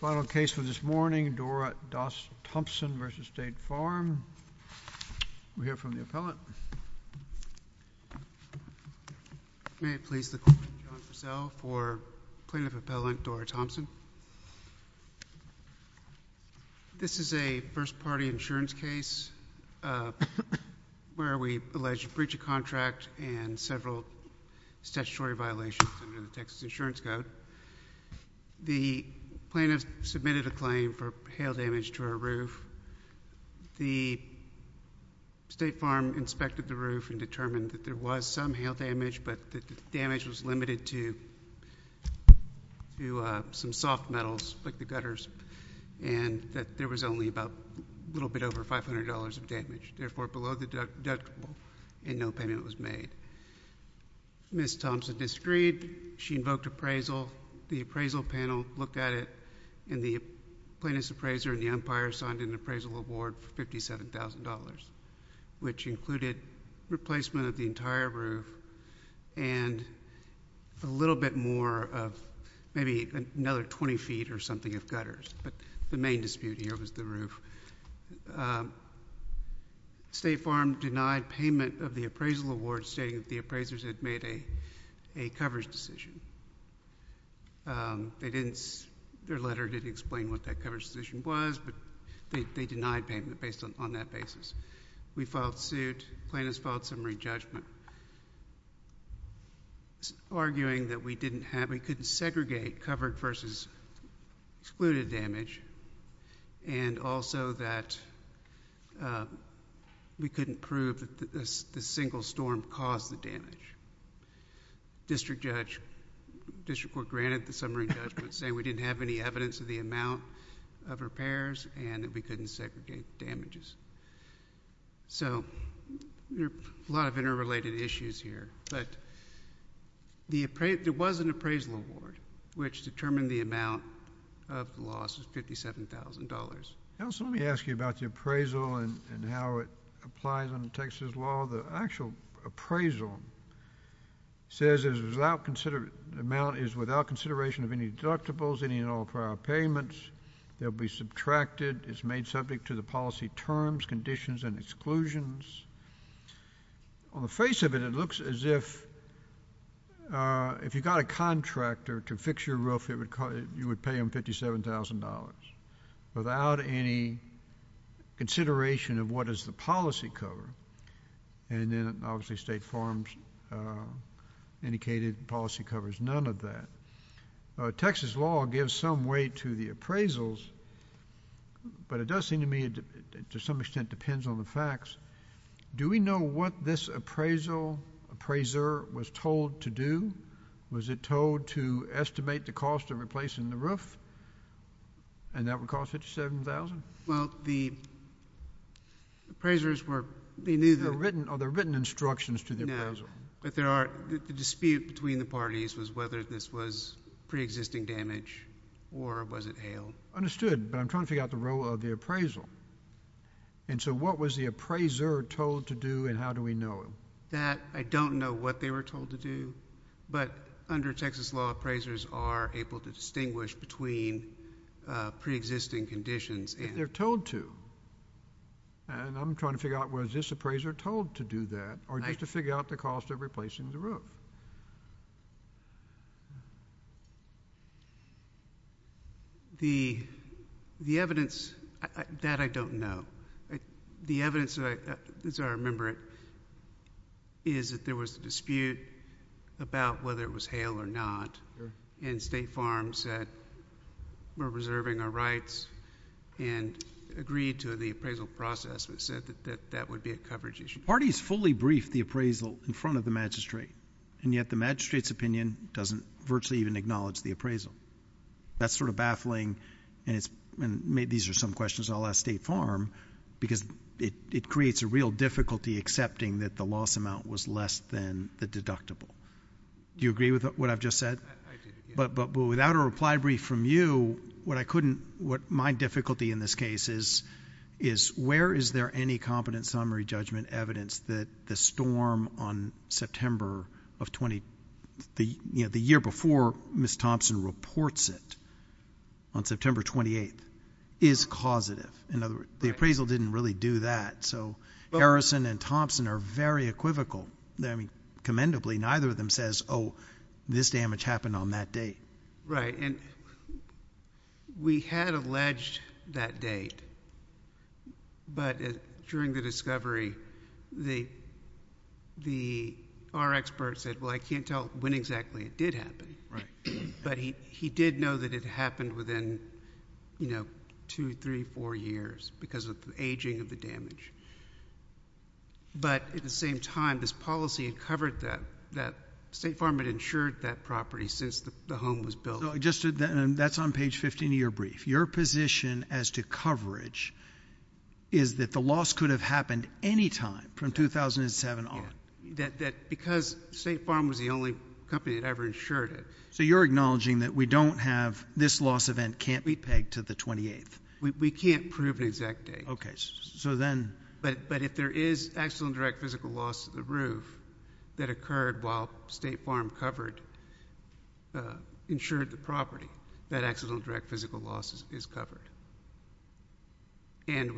Final case for this morning, Dora Thompson v. State Farm. We'll hear from the appellant. May it please the Court, I'm John Purcell for Plaintiff Appellant Dora Thompson. This is a statutory violation under the Texas Insurance Code. The plaintiff submitted a claim for hail damage to her roof. The State Farm inspected the roof and determined that there was some hail damage, but that the damage was limited to some soft metals, like the gutters, and that there was only about a little bit over $500 of damage. Therefore, below the deductible, and no payment was made. Ms. Thompson disagreed. She invoked appraisal. The appraisal panel looked at it, and the plaintiff's appraiser and the umpire signed an appraisal award for $57,000, which included replacement of the entire roof and a little bit more of maybe another 20 feet or something of gutters. The main dispute here was the roof. State Farm denied payment of the appraisal award, stating that the appraisers had made a coverage decision. Their letter did explain what that coverage decision was, but they denied payment based on that basis. We filed suit. Plaintiff's filed summary judgment, arguing that we couldn't segregate covered versus excluded damage. Also, that we couldn't prove that the single storm caused the damage. District Court granted the summary judgment, saying we didn't have any evidence of the amount of repairs, and that we couldn't segregate damages. So there are a lot of interrelated issues here, but there was an appraisal award, which determined the amount of the loss of $57,000. Counsel, let me ask you about the appraisal and how it applies under Texas law. The actual appraisal says the amount is without consideration of any deductibles, any and all prior payments. They'll be subtracted. It's made subject to the policy terms, conditions, and exclusions. On the face of it, it looks as if if you got a contractor to fix your roof, you would pay them $57,000 without any consideration of what is the policy cover. And then, obviously, State Farms indicated policy covers none of that. Texas law gives some weight to the appraisals, but it does seem to me, to some extent, depends on the facts. Do we know what this appraisal appraiser was told to do? Was it told to estimate the cost of replacing the roof, and that would cost $57,000? Well, the appraisers were... They knew the... Are there written instructions to the appraisal? No, but there are... The dispute between the parties was whether this was preexisting damage or was it hail. Understood, but I'm trying to figure out the role of the appraisal. And so, what was the appraiser told to do, and how do we know? That, I don't know what they were told to do, but under Texas law, appraisers are able to distinguish between preexisting conditions and... But they're told to. And I'm trying to figure out, was this appraiser told to do that, or just to figure out the cost of replacing the roof? The evidence, that I don't know. The evidence, as I remember it, is that there was a dispute about whether it was hail or not. And State Farms said, we're reserving our rights, and agreed to the appraisal process, but said that that would be a coverage issue. The parties fully briefed the appraisal in front of the magistrate, and yet the magistrate's opinion doesn't virtually even acknowledge the appraisal. That's sort of baffling, and maybe these are some questions I'll ask State Farm, because it creates a real difficulty accepting that the loss amount was less than the deductible. Do you agree with what I've just said? But without a reply brief from you, what my difficulty in this case is, is where is there any competent summary judgment evidence that the storm on September of... The year before Ms. Thompson reports it, on September 28th, is causative. In other words, the appraisal didn't really do that, so Harrison and Thompson are very equivocal. I mean, commendably, neither of them says, oh, this damage happened on that date. Right, and we had alleged that date, but during the discovery, our expert said, well, I can't tell when exactly it did happen. But he did know that it happened within, you know, two, three, four years because of the aging of the damage. But at the same time, this policy had covered that State Farm had insured that property since the home was built. That's on page 15 of your brief. Your position as to coverage is that the loss could have happened any time from 2007 on. Because State Farm was the only company that ever insured it... So you're acknowledging that we don't have... this loss event can't be pegged to the 28th. We can't prove an exact date. Okay, so then... But if there is accidental and direct physical loss to the roof that occurred while State Farm covered, insured the property, that accidental and direct physical loss is covered. And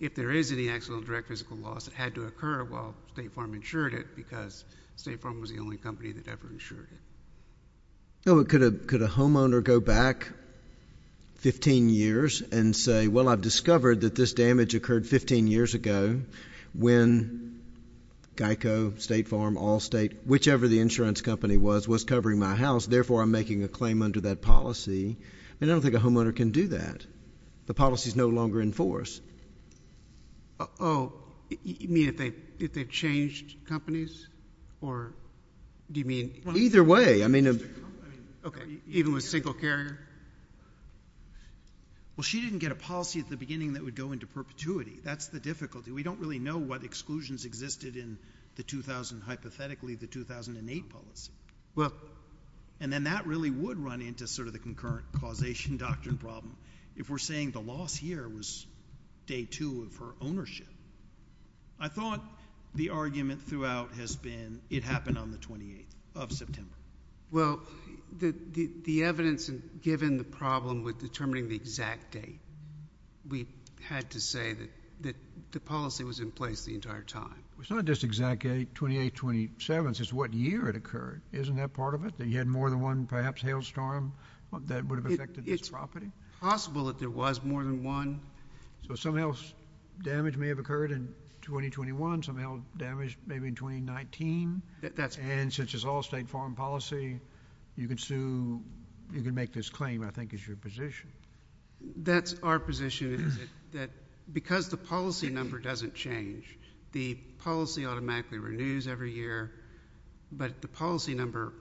if there is any accidental and direct physical loss that had to occur while State Farm insured it because State Farm was the only company that ever insured it. No, but could a homeowner go back 15 years and say, well, I've discovered that this damage occurred 15 years ago when Geico, State Farm, Allstate, whichever the insurance company was, was covering my house. Therefore, I'm making a claim under that policy. I mean, I don't think a homeowner can do that. The policy is no longer in force. Oh, you mean if they changed companies? Or do you mean... Either way. Okay, even with single carrier? Well, she didn't get a policy at the beginning that would go into perpetuity. That's the difficulty. We don't really know what exclusions existed in the 2000... hypothetically, the 2008 policy. Well... And then that really would run into sort of the concurrent causation doctrine problem if we're saying the lost year was day two of her ownership. I thought the argument throughout has been it happened on the 28th of September. Well, the evidence, given the problem with determining the exact date, we had to say that the policy was in place the entire time. It's not just exact date, 28th, 27th. It's what year it occurred. Isn't that part of it, that you had more than one perhaps hailstorm that would have affected this property? It's possible that there was more than one. So some health damage may have occurred in 2021, some health damage maybe in 2019. That's... And since it's all state foreign policy, you can sue... you can make this claim, I think, is your position. That's our position is that because the policy number doesn't change, the policy automatically renews every year, but the policy number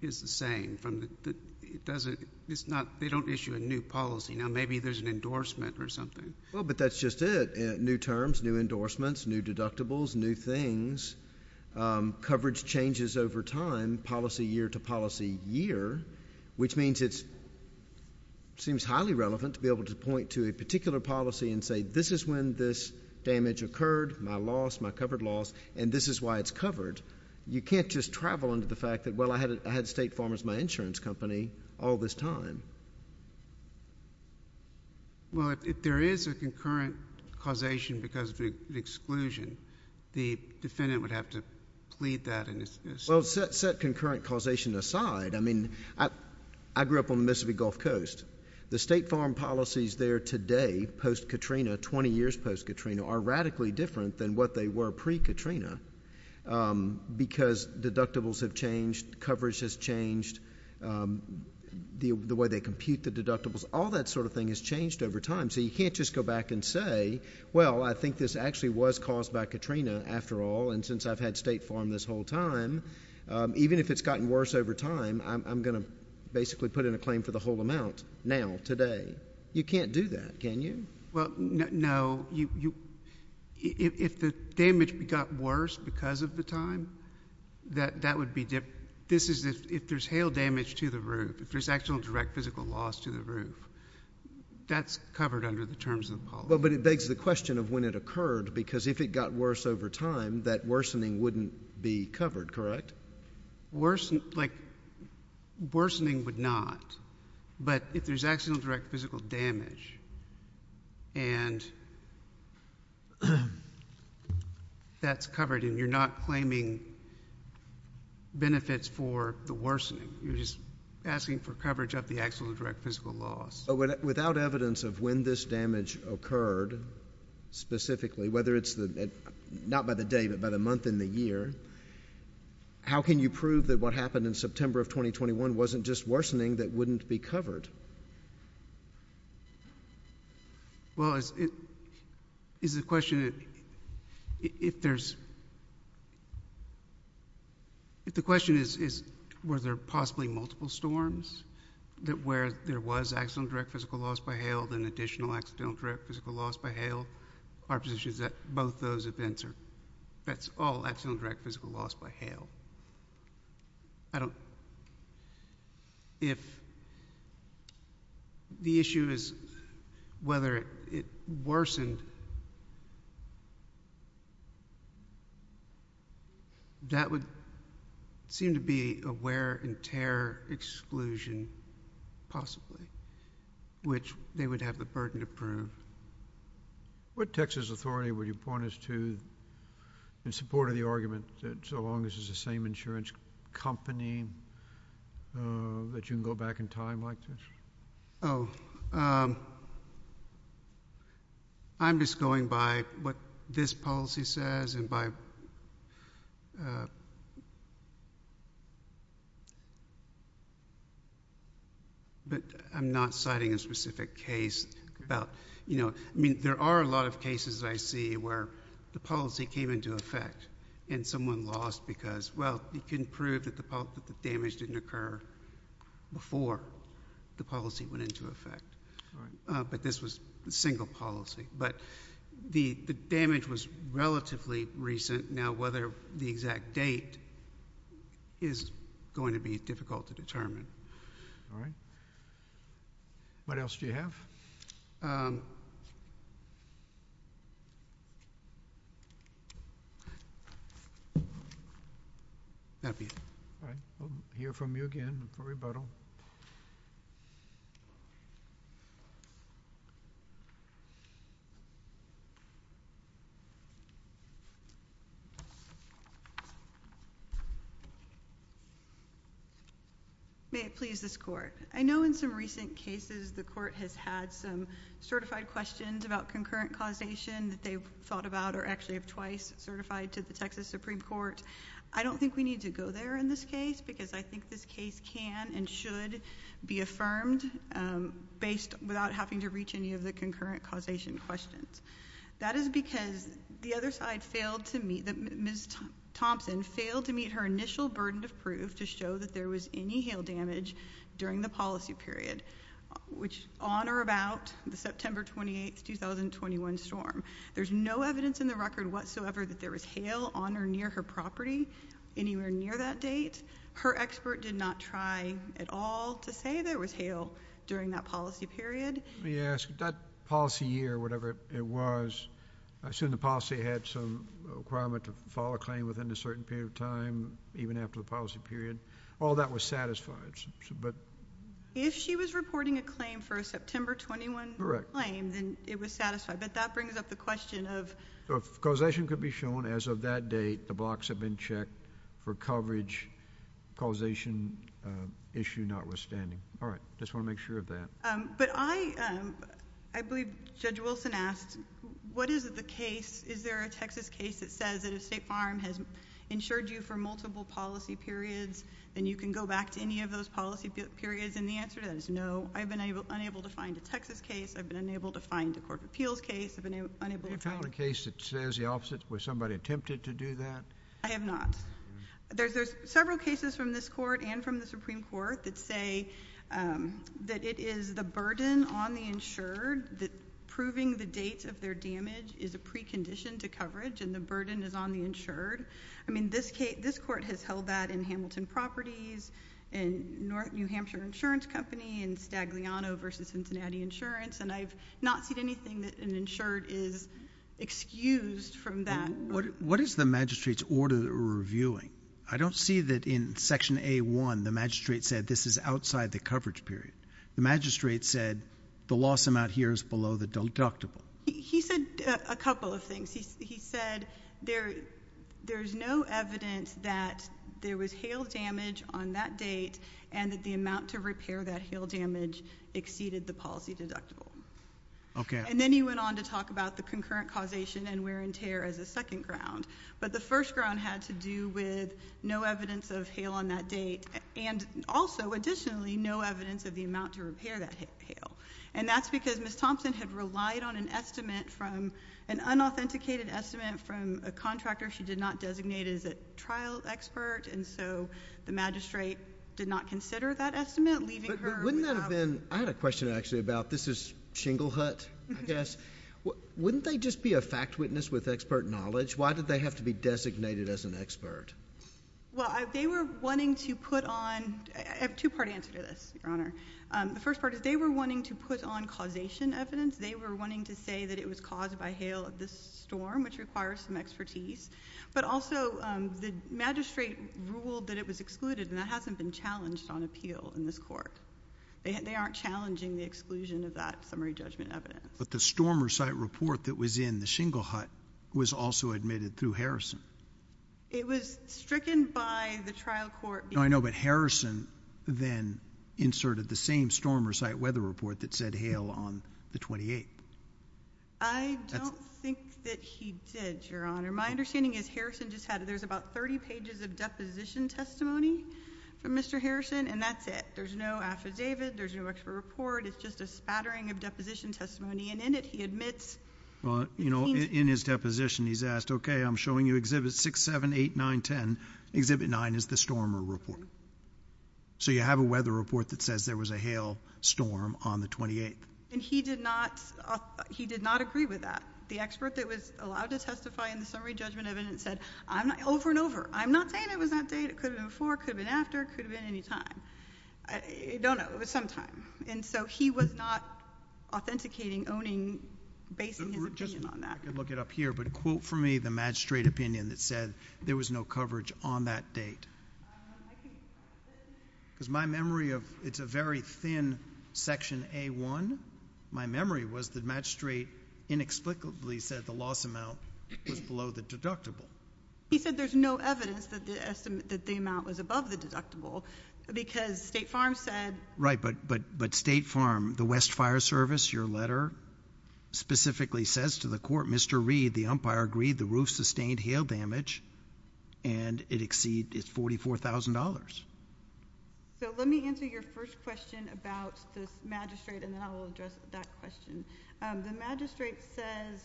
is the same. It doesn't... it's not... they don't issue a new policy. Now, maybe there's an endorsement or something. Well, but that's just it. New terms, new endorsements, new deductibles, new things, coverage changes over time, policy year to policy year, which means it seems highly relevant to be able to point to a particular policy and say, this is when this damage occurred, my loss, my covered loss, and this is why it's covered. You can't just travel into the fact that, well, I had State Farm as my insurance company all this time. Well, if there is a concurrent causation because of an exclusion, the defendant would have to plead that. Well, set concurrent causation aside, I mean, I grew up on the Mississippi Gulf Coast. The State Farm policies there today, post-Katrina, 20 years post-Katrina, are radically different than what they were pre-Katrina because deductibles have changed, coverage has changed, the way they compute the deductibles. All that sort of thing has changed over time, so you can't just go back and say, well, I think this actually was caused by Katrina after all, and since I've had State Farm this whole time, even if it's gotten worse over time, I'm going to basically put in a claim for the whole amount now, today. You can't do that, can you? Well, no. If the damage got worse because of the time, that would be different. If there's hail damage to the roof, if there's actual direct physical loss to the roof, that's covered under the terms of the policy. But it begs the question of when it occurred, because if it got worse over time, that worsening wouldn't be covered, correct? Worsening would not, but if there's actual direct physical damage and that's covered and you're not claiming benefits for the worsening, you're just asking for coverage of the actual direct physical loss. Without evidence of when this damage occurred, specifically, whether it's not by the day, but by the month and the year, how can you prove that what happened in September of 2021 wasn't just worsening that wouldn't be covered? Well, is the question, if there's, if the question is, were there possibly multiple storms, where there was actual direct physical loss by hail, then additional actual direct physical loss by hail, our position is that both those events are, that's all actual direct physical loss by hail. I don't, if the issue is whether it worsened, that would seem to be a wear and tear exclusion, possibly, which they would have the burden to prove. What Texas authority would you point us to in support of the argument that so long as it's the same insurance company that you can go back in time like this? Oh, I'm just going by what this policy says and by, but I'm not citing a specific case about, you know, I mean, there are a lot of cases I see where the policy came into effect and someone lost because, well, you can prove that the damage didn't occur before the policy went into effect. But this was a single policy. But the damage was relatively recent. Now whether the exact date is going to be difficult to determine. All right. What else do you have? That'll be it. All right. We'll hear from you again for rebuttal. May it please this Court. I know in some recent cases the Court has had some certified questions about concurrent causation that they've thought about or actually have twice certified to the Texas Supreme Court. I don't think we need to go there in this case because I think this case can and should be affirmed based, without having to reach any of the concurrent causation questions. That is because the other side failed to meet, Ms. Thompson, failed to meet her initial burden of proof to show that there was any hail damage during the policy period, which on or about the September 28, 2021 storm. There's no evidence in the record whatsoever that there was hail on or near her property anywhere near that date. Her expert did not try at all to say there was hail during that policy period. Let me ask. That policy year, whatever it was, I assume the policy had some requirement to file a claim within a certain period of time, even after the policy period. All that was satisfied. If she was reporting a claim for a September 21 claim, then it was satisfied. I bet that brings up the question of... If causation could be shown as of that date, the blocks have been checked for coverage, causation issue notwithstanding. All right. Just want to make sure of that. But I believe Judge Wilson asked, what is the case? Is there a Texas case that says that if State Farm has insured you for multiple policy periods, then you can go back to any of those policy periods? And the answer to that is no. I've been unable to find a Texas case. I've been unable to find a corporate appeals case. I've been unable to find... Have you found a case that says the opposite? Was somebody attempted to do that? I have not. There's several cases from this Court and from the Supreme Court that say that it is the burden on the insured that proving the date of their damage is a precondition to coverage, and the burden is on the insured. I mean, this Court has held that in Hamilton Properties, in New Hampshire Insurance Company, in Stagliano v. Cincinnati Insurance, and I've not seen anything that an insured is excused from that. What is the magistrate's order that we're reviewing? I don't see that in Section A.1, the magistrate said this is outside the coverage period. The magistrate said the loss amount here is below the deductible. He said a couple of things. He said there's no evidence that there was hail damage on that date and that the amount to repair that hail damage exceeded the policy deductible. And then he went on to talk about the concurrent causation and wear and tear as a second ground, but the first ground had to do with no evidence of hail on that date and also, additionally, no evidence of the amount to repair that hail. And that's because Ms. Thompson had relied on an estimate from an unauthenticated estimate from a contractor she did not designate as a trial expert, and so the magistrate did not consider that estimate, leaving her without... But wouldn't that have been... I had a question, actually, about this is Shinglehut, I guess. Wouldn't they just be a fact witness with expert knowledge? Why did they have to be designated as an expert? Well, they were wanting to put on... I have a two-part answer to this, Your Honor. The first part is they were wanting to put on causation evidence. They were wanting to say that it was caused by hail of this storm, which requires some expertise. But also, the magistrate ruled that it was excluded, and that hasn't been challenged on appeal in this court. They aren't challenging the exclusion of that summary judgment evidence. But the storm or site report that was in the Shinglehut was also admitted through Harrison. It was stricken by the trial court... No, I know, but Harrison then inserted the same storm or site weather report that said hail on the 28th. I don't think that he did, Your Honor. My understanding is Harrison just had... there's about 30 pages of deposition testimony from Mr. Harrison, and that's it. There's no affidavit. There's no expert report. It's just a spattering of deposition testimony, and in it he admits... Well, you know, in his deposition he's asked, okay, I'm showing you Exhibit 6, 7, 8, 9, 10. Exhibit 9 is the storm or report. So you have a weather report that says there was a hail storm on the 28th. And he did not agree with that. The expert that was allowed to testify in the summary judgment evidence said, over and over, I'm not saying it was that day. It could have been before. It could have been after. It could have been any time. I don't know. It was some time. And so he was not authenticating, owning, basing his opinion on that. I can look it up here. But quote for me the magistrate opinion that said there was no coverage on that date. I think... Because my memory of... it's a very thin Section A-1. My memory was the magistrate inexplicably said the loss amount was below the deductible. He said there's no evidence that the amount was above the deductible because State Farm said... Right. But State Farm, the West Fire Service, your letter specifically says to the court, Mr. Reed, the umpire agreed the roof sustained hail damage and it exceeded $44,000. So let me answer your first question about the magistrate and then I'll address that question. The magistrate says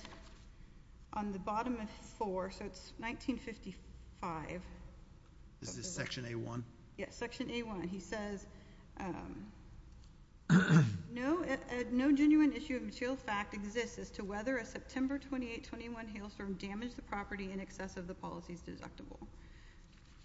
on the bottom of his floor, so it's 1955... Is this Section A-1? Yes, Section A-1. He says no genuine issue of material fact exists as to whether a September 28, 21 hailstorm damaged the property in excess of the policy's deductible.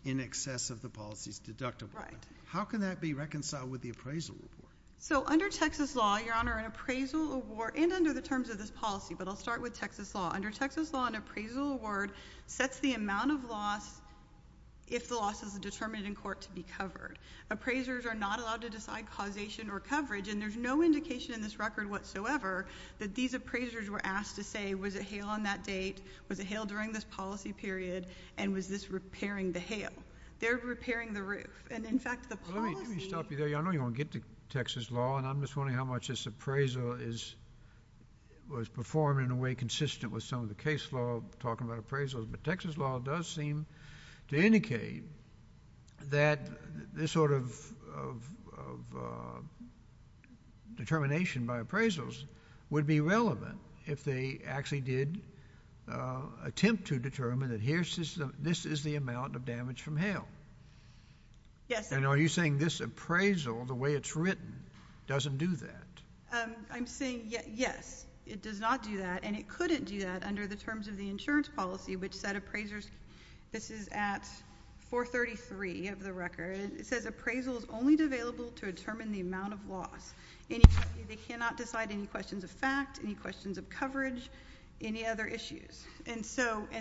In excess of the policy's deductible. Right. How can that be reconciled with the appraisal report? So under Texas law, Your Honor, an appraisal award and under the terms of this policy, but I'll start with Texas law. Under Texas law, an appraisal award sets the amount of loss if the loss is determined in court to be covered. Appraisers are not allowed to decide causation or coverage. And there's no indication in this record whatsoever that these appraisers were asked to say, was it hail on that date? Was it hail during this policy period? And was this repairing the hail? They're repairing the roof. And, in fact, the policy... Well, let me stop you there. I know you want to get to Texas law and I'm just wondering how much this appraisal is, was performed in a way consistent with some of the case law talking about appraisals. But Texas law does seem to indicate that this sort of determination by appraisals would be relevant if they actually did attempt to determine that this is the amount of damage from hail. Yes. And are you saying this appraisal, the way it's written, doesn't do that? I'm saying, yes, it does not do that. And it couldn't do that under the terms of the insurance policy, which said appraisers... This is at 433 of the record. It says appraisal is only available to determine the amount of loss. They cannot decide any questions of fact, any questions of coverage, any other issues. And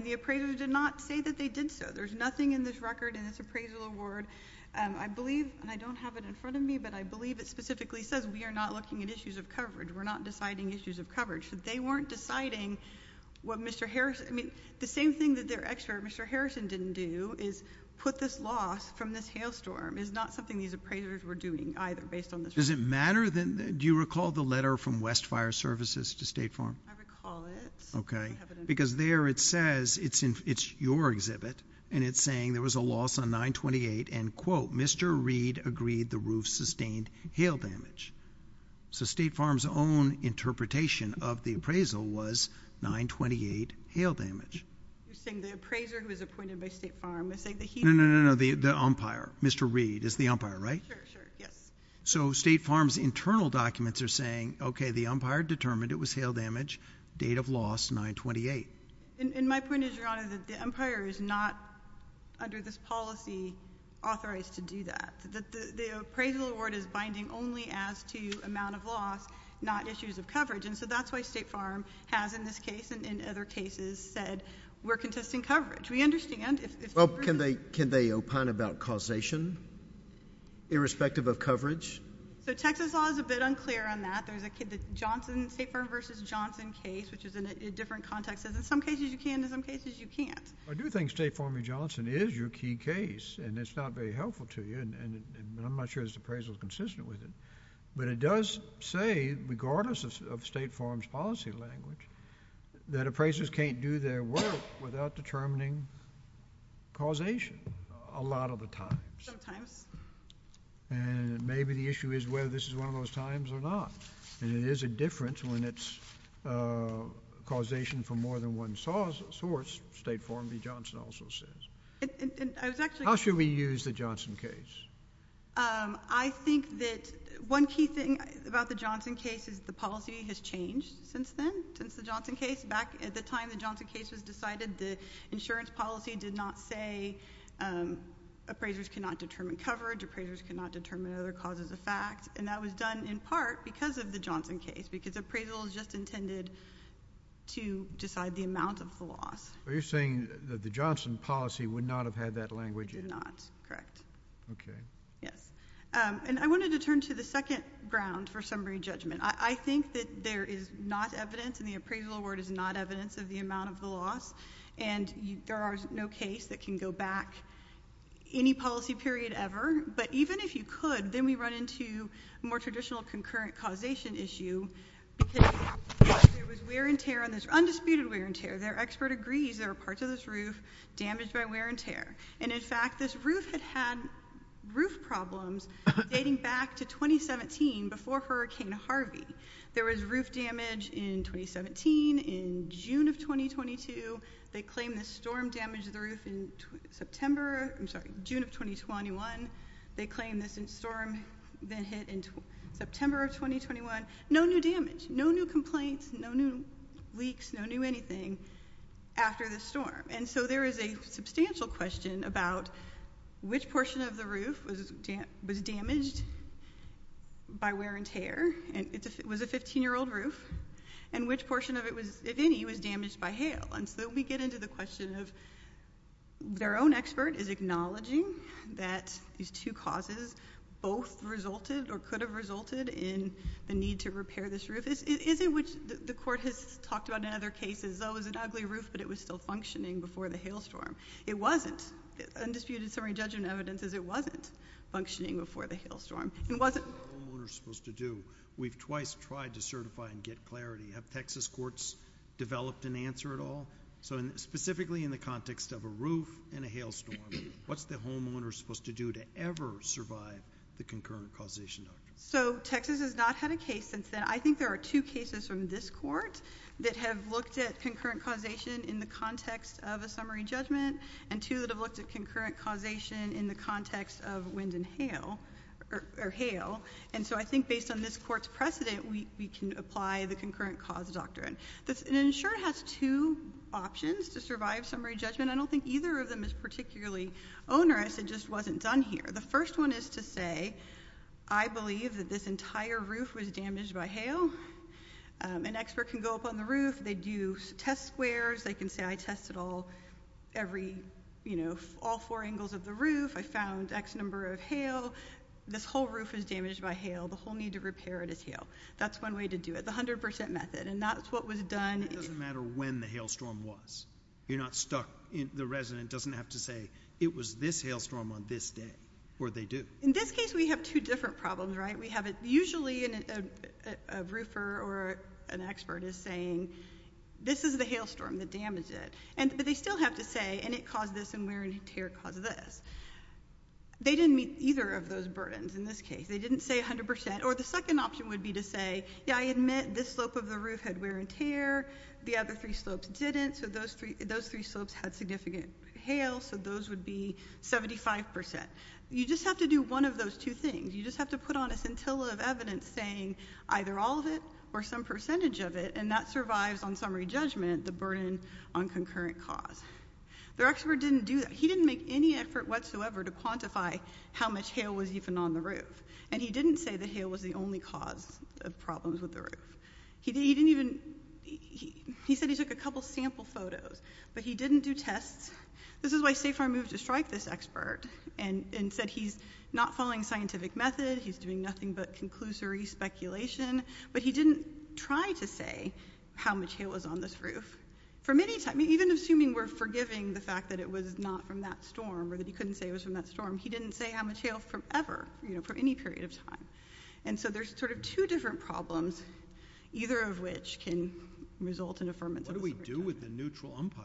the appraisers did not say that they did so. There's nothing in this record in this appraisal award. I believe, and I don't have it in front of me, but I believe it specifically says we are not looking at issues of coverage. We're not deciding issues of coverage. They weren't deciding what Mr. Harrison... I mean, the same thing that their expert, Mr. Harrison, didn't do is put this loss from this hailstorm. It's not something these appraisers were doing either based on this record. Does it matter? Do you recall the letter from Westfire Services to State Farm? I recall it. Okay. Because there it says it's your exhibit, and it's saying there was a loss on 928 and, quote, Mr. Reed agreed the roof sustained hail damage. So State Farm's own interpretation of the appraisal was 928 hail damage. You're saying the appraiser who was appointed by State Farm is saying that he... No, no, no, no, the umpire, Mr. Reed is the umpire, right? Sure, sure, yes. So State Farm's internal documents are saying, okay, the umpire determined it was hail damage, date of loss 928. And my point is, Your Honor, that the umpire is not, under this policy, authorized to do that. The appraisal award is binding only as to amount of loss, not issues of coverage. And so that's why State Farm has, in this case and in other cases, said we're contesting coverage. We understand if... Well, can they opine about causation, irrespective of coverage? So Texas law is a bit unclear on that. There's a Johnson... State Farm v. Johnson case, which is in different contexts. In some cases you can, in some cases you can't. I do think State Farm v. Johnson is your key case. And it's not very helpful to you, and I'm not sure this appraisal is consistent with it. But it does say, regardless of State Farm's policy language, that appraisers can't do their work without determining causation, a lot of the times. Sometimes. And maybe the issue is whether this is one of those times or not. And it is a difference when it's causation for more than one source, State Farm v. Johnson also says. I was actually... How should we use the Johnson case? I think that one key thing about the Johnson case is the policy has changed since then, since the Johnson case. Back at the time the Johnson case was decided, the insurance policy did not say appraisers cannot determine coverage, appraisers cannot determine other causes of fact. And that was done in part because of the Johnson case, because appraisal is just intended to decide the amount of the loss. So you're saying that the Johnson policy would not have had that language? It did not, correct. Okay. Yes. And I wanted to turn to the second ground for summary judgment. I think that there is not evidence, and the appraisal award is not evidence of the amount of the loss, and there is no case that can go back any policy period ever. But even if you could, then we run into a more traditional concurrent causation issue, because there was wear and tear on this, undisputed wear and tear. Their expert agrees there are parts of this roof damaged by wear and tear. And, in fact, this roof had had roof problems dating back to 2017, before Hurricane Harvey. There was roof damage in 2017, in June of 2022. They claim the storm damaged the roof in September, I'm sorry, June of 2021. They claim this storm then hit in September of 2021. No new damage, no new complaints, no new leaks, no new anything after the storm. And so there is a substantial question about which portion of the roof was damaged by wear and tear. It was a 15-year-old roof. And which portion of it was, if any, was damaged by hail. And so we get into the question of their own expert is acknowledging that these two causes both resulted or could have resulted in the need to repair this roof. The court has talked about in other cases, oh, it was an ugly roof, but it was still functioning before the hailstorm. It wasn't. Undisputed summary judgment evidence is it wasn't functioning before the hailstorm. It wasn't. What's the homeowner supposed to do? We've twice tried to certify and get clarity. Have Texas courts developed an answer at all? So specifically in the context of a roof and a hailstorm, what's the homeowner supposed to do to ever survive the concurrent causation? So Texas has not had a case since then. I think there are two cases from this court that have looked at concurrent causation in the context of a summary judgment and two that have looked at concurrent causation in the context of wind and hail or hail. And so I think based on this court's precedent, we can apply the concurrent cause doctrine. An insurer has two options to survive summary judgment. I don't think either of them is particularly onerous. It just wasn't done here. The first one is to say I believe that this entire roof was damaged by hail. An expert can go up on the roof. They do test squares. They can say I tested all every, you know, all four angles of the roof. I found X number of hail. This whole roof is damaged by hail. The whole need to repair it is hail. That's one way to do it, the 100% method. And that's what was done. It doesn't matter when the hailstorm was. You're not stuck. The resident doesn't have to say it was this hailstorm on this day or they do. In this case, we have two different problems, right? We have usually a roofer or an expert is saying this is the hailstorm that damaged it. But they still have to say and it caused this and wear and tear caused this. They didn't meet either of those burdens in this case. They didn't say 100%. Or the second option would be to say, yeah, I admit this slope of the roof had wear and tear. The other three slopes didn't. So those three slopes had significant hail. So those would be 75%. You just have to do one of those two things. You just have to put on a scintilla of evidence saying either all of it or some percentage of it. And that survives on summary judgment, the burden on concurrent cause. The expert didn't do that. He didn't make any effort whatsoever to quantify how much hail was even on the roof. And he didn't say that hail was the only cause of problems with the roof. He said he took a couple sample photos. But he didn't do tests. This is why SAFAR moved to strike this expert and said he's not following scientific method. He's doing nothing but conclusory speculation. But he didn't try to say how much hail was on this roof. Even assuming we're forgiving the fact that it was not from that storm or that he couldn't say it was from that storm, he didn't say how much hail forever, you know, for any period of time. And so there's sort of two different problems, either of which can result in affirmative. What do we do with the neutral umpire?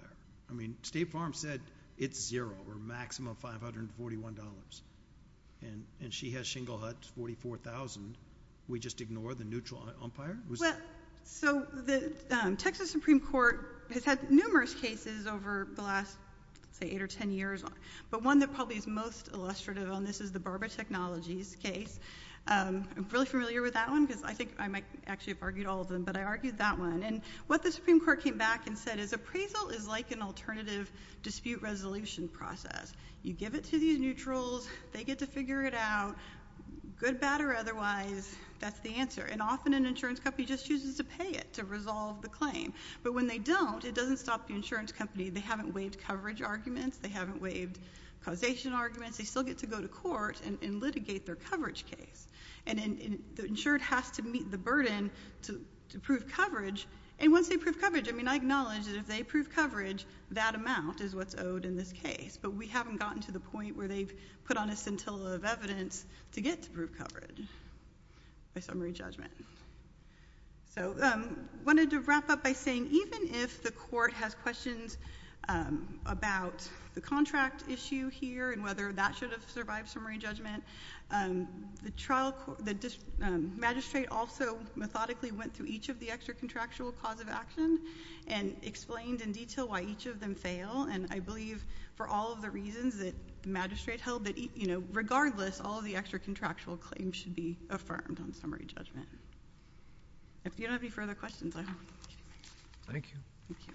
I mean State Farm said it's zero or maximum $541. And she has Shingle Hut, $44,000. We just ignore the neutral umpire? Well, so the Texas Supreme Court has had numerous cases over the last, say, 8 or 10 years. But one that probably is most illustrative on this is the Barber Technologies case. I'm really familiar with that one because I think I might actually have argued all of them. But I argued that one. And what the Supreme Court came back and said is appraisal is like an alternative dispute resolution process. You give it to these neutrals. They get to figure it out, good, bad, or otherwise. That's the answer. And often an insurance company just chooses to pay it to resolve the claim. But when they don't, it doesn't stop the insurance company. They haven't waived coverage arguments. They haven't waived causation arguments. They still get to go to court and litigate their coverage case. And the insured has to meet the burden to prove coverage. And once they prove coverage, I mean I acknowledge that if they prove coverage, that amount is what's owed in this case. But we haven't gotten to the point where they've put on a scintilla of evidence to get to prove coverage by summary judgment. So I wanted to wrap up by saying even if the court has questions about the contract issue here and whether that should have survived summary judgment, the magistrate also methodically went through each of the extra contractual cause of action and explained in detail why each of them fail. And I believe for all of the reasons that the magistrate held, regardless, all of the extra contractual claims should be affirmed on summary judgment. If you don't have any further questions, I hope. Thank you. Thank you.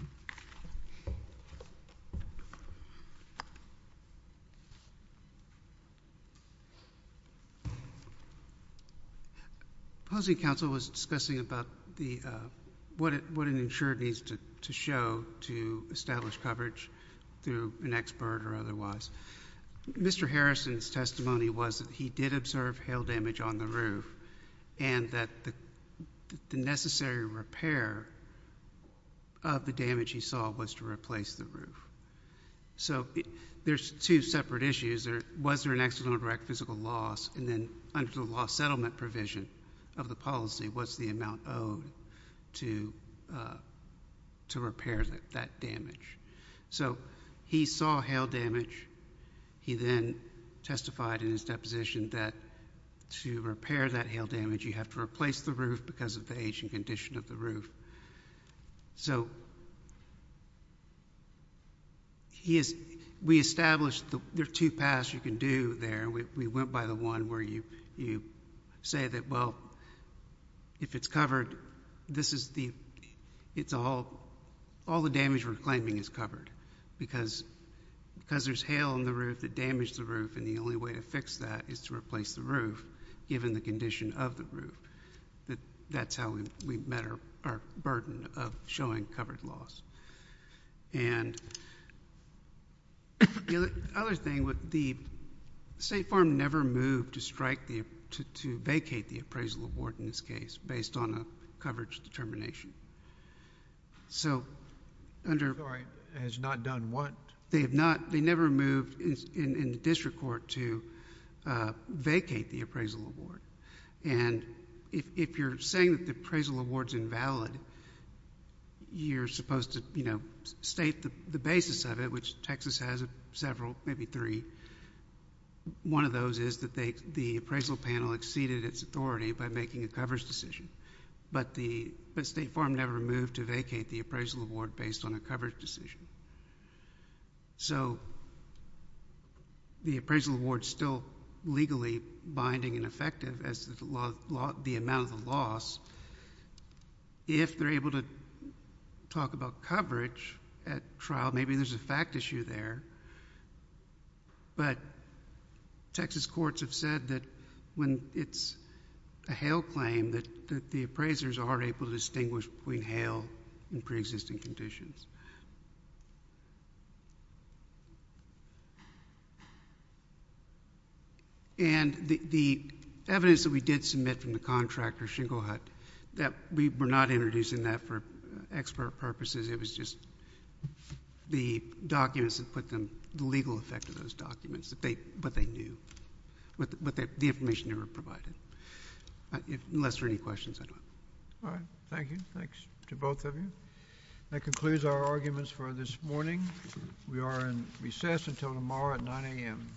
Housing Council was discussing about what an insurer needs to show to establish coverage through an expert or otherwise. Mr. Harrison's testimony was that he did observe hail damage on the roof and that the necessary repair of the damage he saw was to replace the roof. So there's two separate issues. Was there an accidental direct physical loss? And then under the law settlement provision of the policy, what's the amount owed to repair that damage? So he saw hail damage. He then testified in his deposition that to repair that hail damage, you have to replace the roof because of the age and condition of the roof. So we established there are two paths you can do there. We went by the one where you say that, well, if it's covered, all the damage we're claiming is covered because there's hail on the roof that damaged the roof and the only way to fix that is to replace the roof given the condition of the roof. That's how we met our burden of showing covered loss. And the other thing, the State Farm never moved to strike, to vacate the appraisal award in this case based on a coverage determination. So under... Sorry, has not done what? They have not. They never moved in the district court to vacate the appraisal award. And if you're saying that the appraisal award's invalid, you're supposed to state the basis of it, which Texas has several, maybe three. One of those is that the appraisal panel exceeded its authority by making a coverage decision, but State Farm never moved to vacate the appraisal award based on a coverage decision. So the appraisal award's still legally binding and effective as the amount of the loss. If they're able to talk about coverage at trial, maybe there's a fact issue there, but Texas courts have said that when it's a hail claim, that the appraisers aren't able to distinguish between hail and preexisting conditions. And the evidence that we did submit from the contractor, Shingle Hut, that we were not introducing that for expert purposes. It was just the documents that put them... the legal effect of those documents, what they knew, the information they were provided. Unless there are any questions, I don't know. All right. Thank you. Thanks to both of you. That concludes our arguments for this morning. We are in recess until tomorrow at 9 a.m.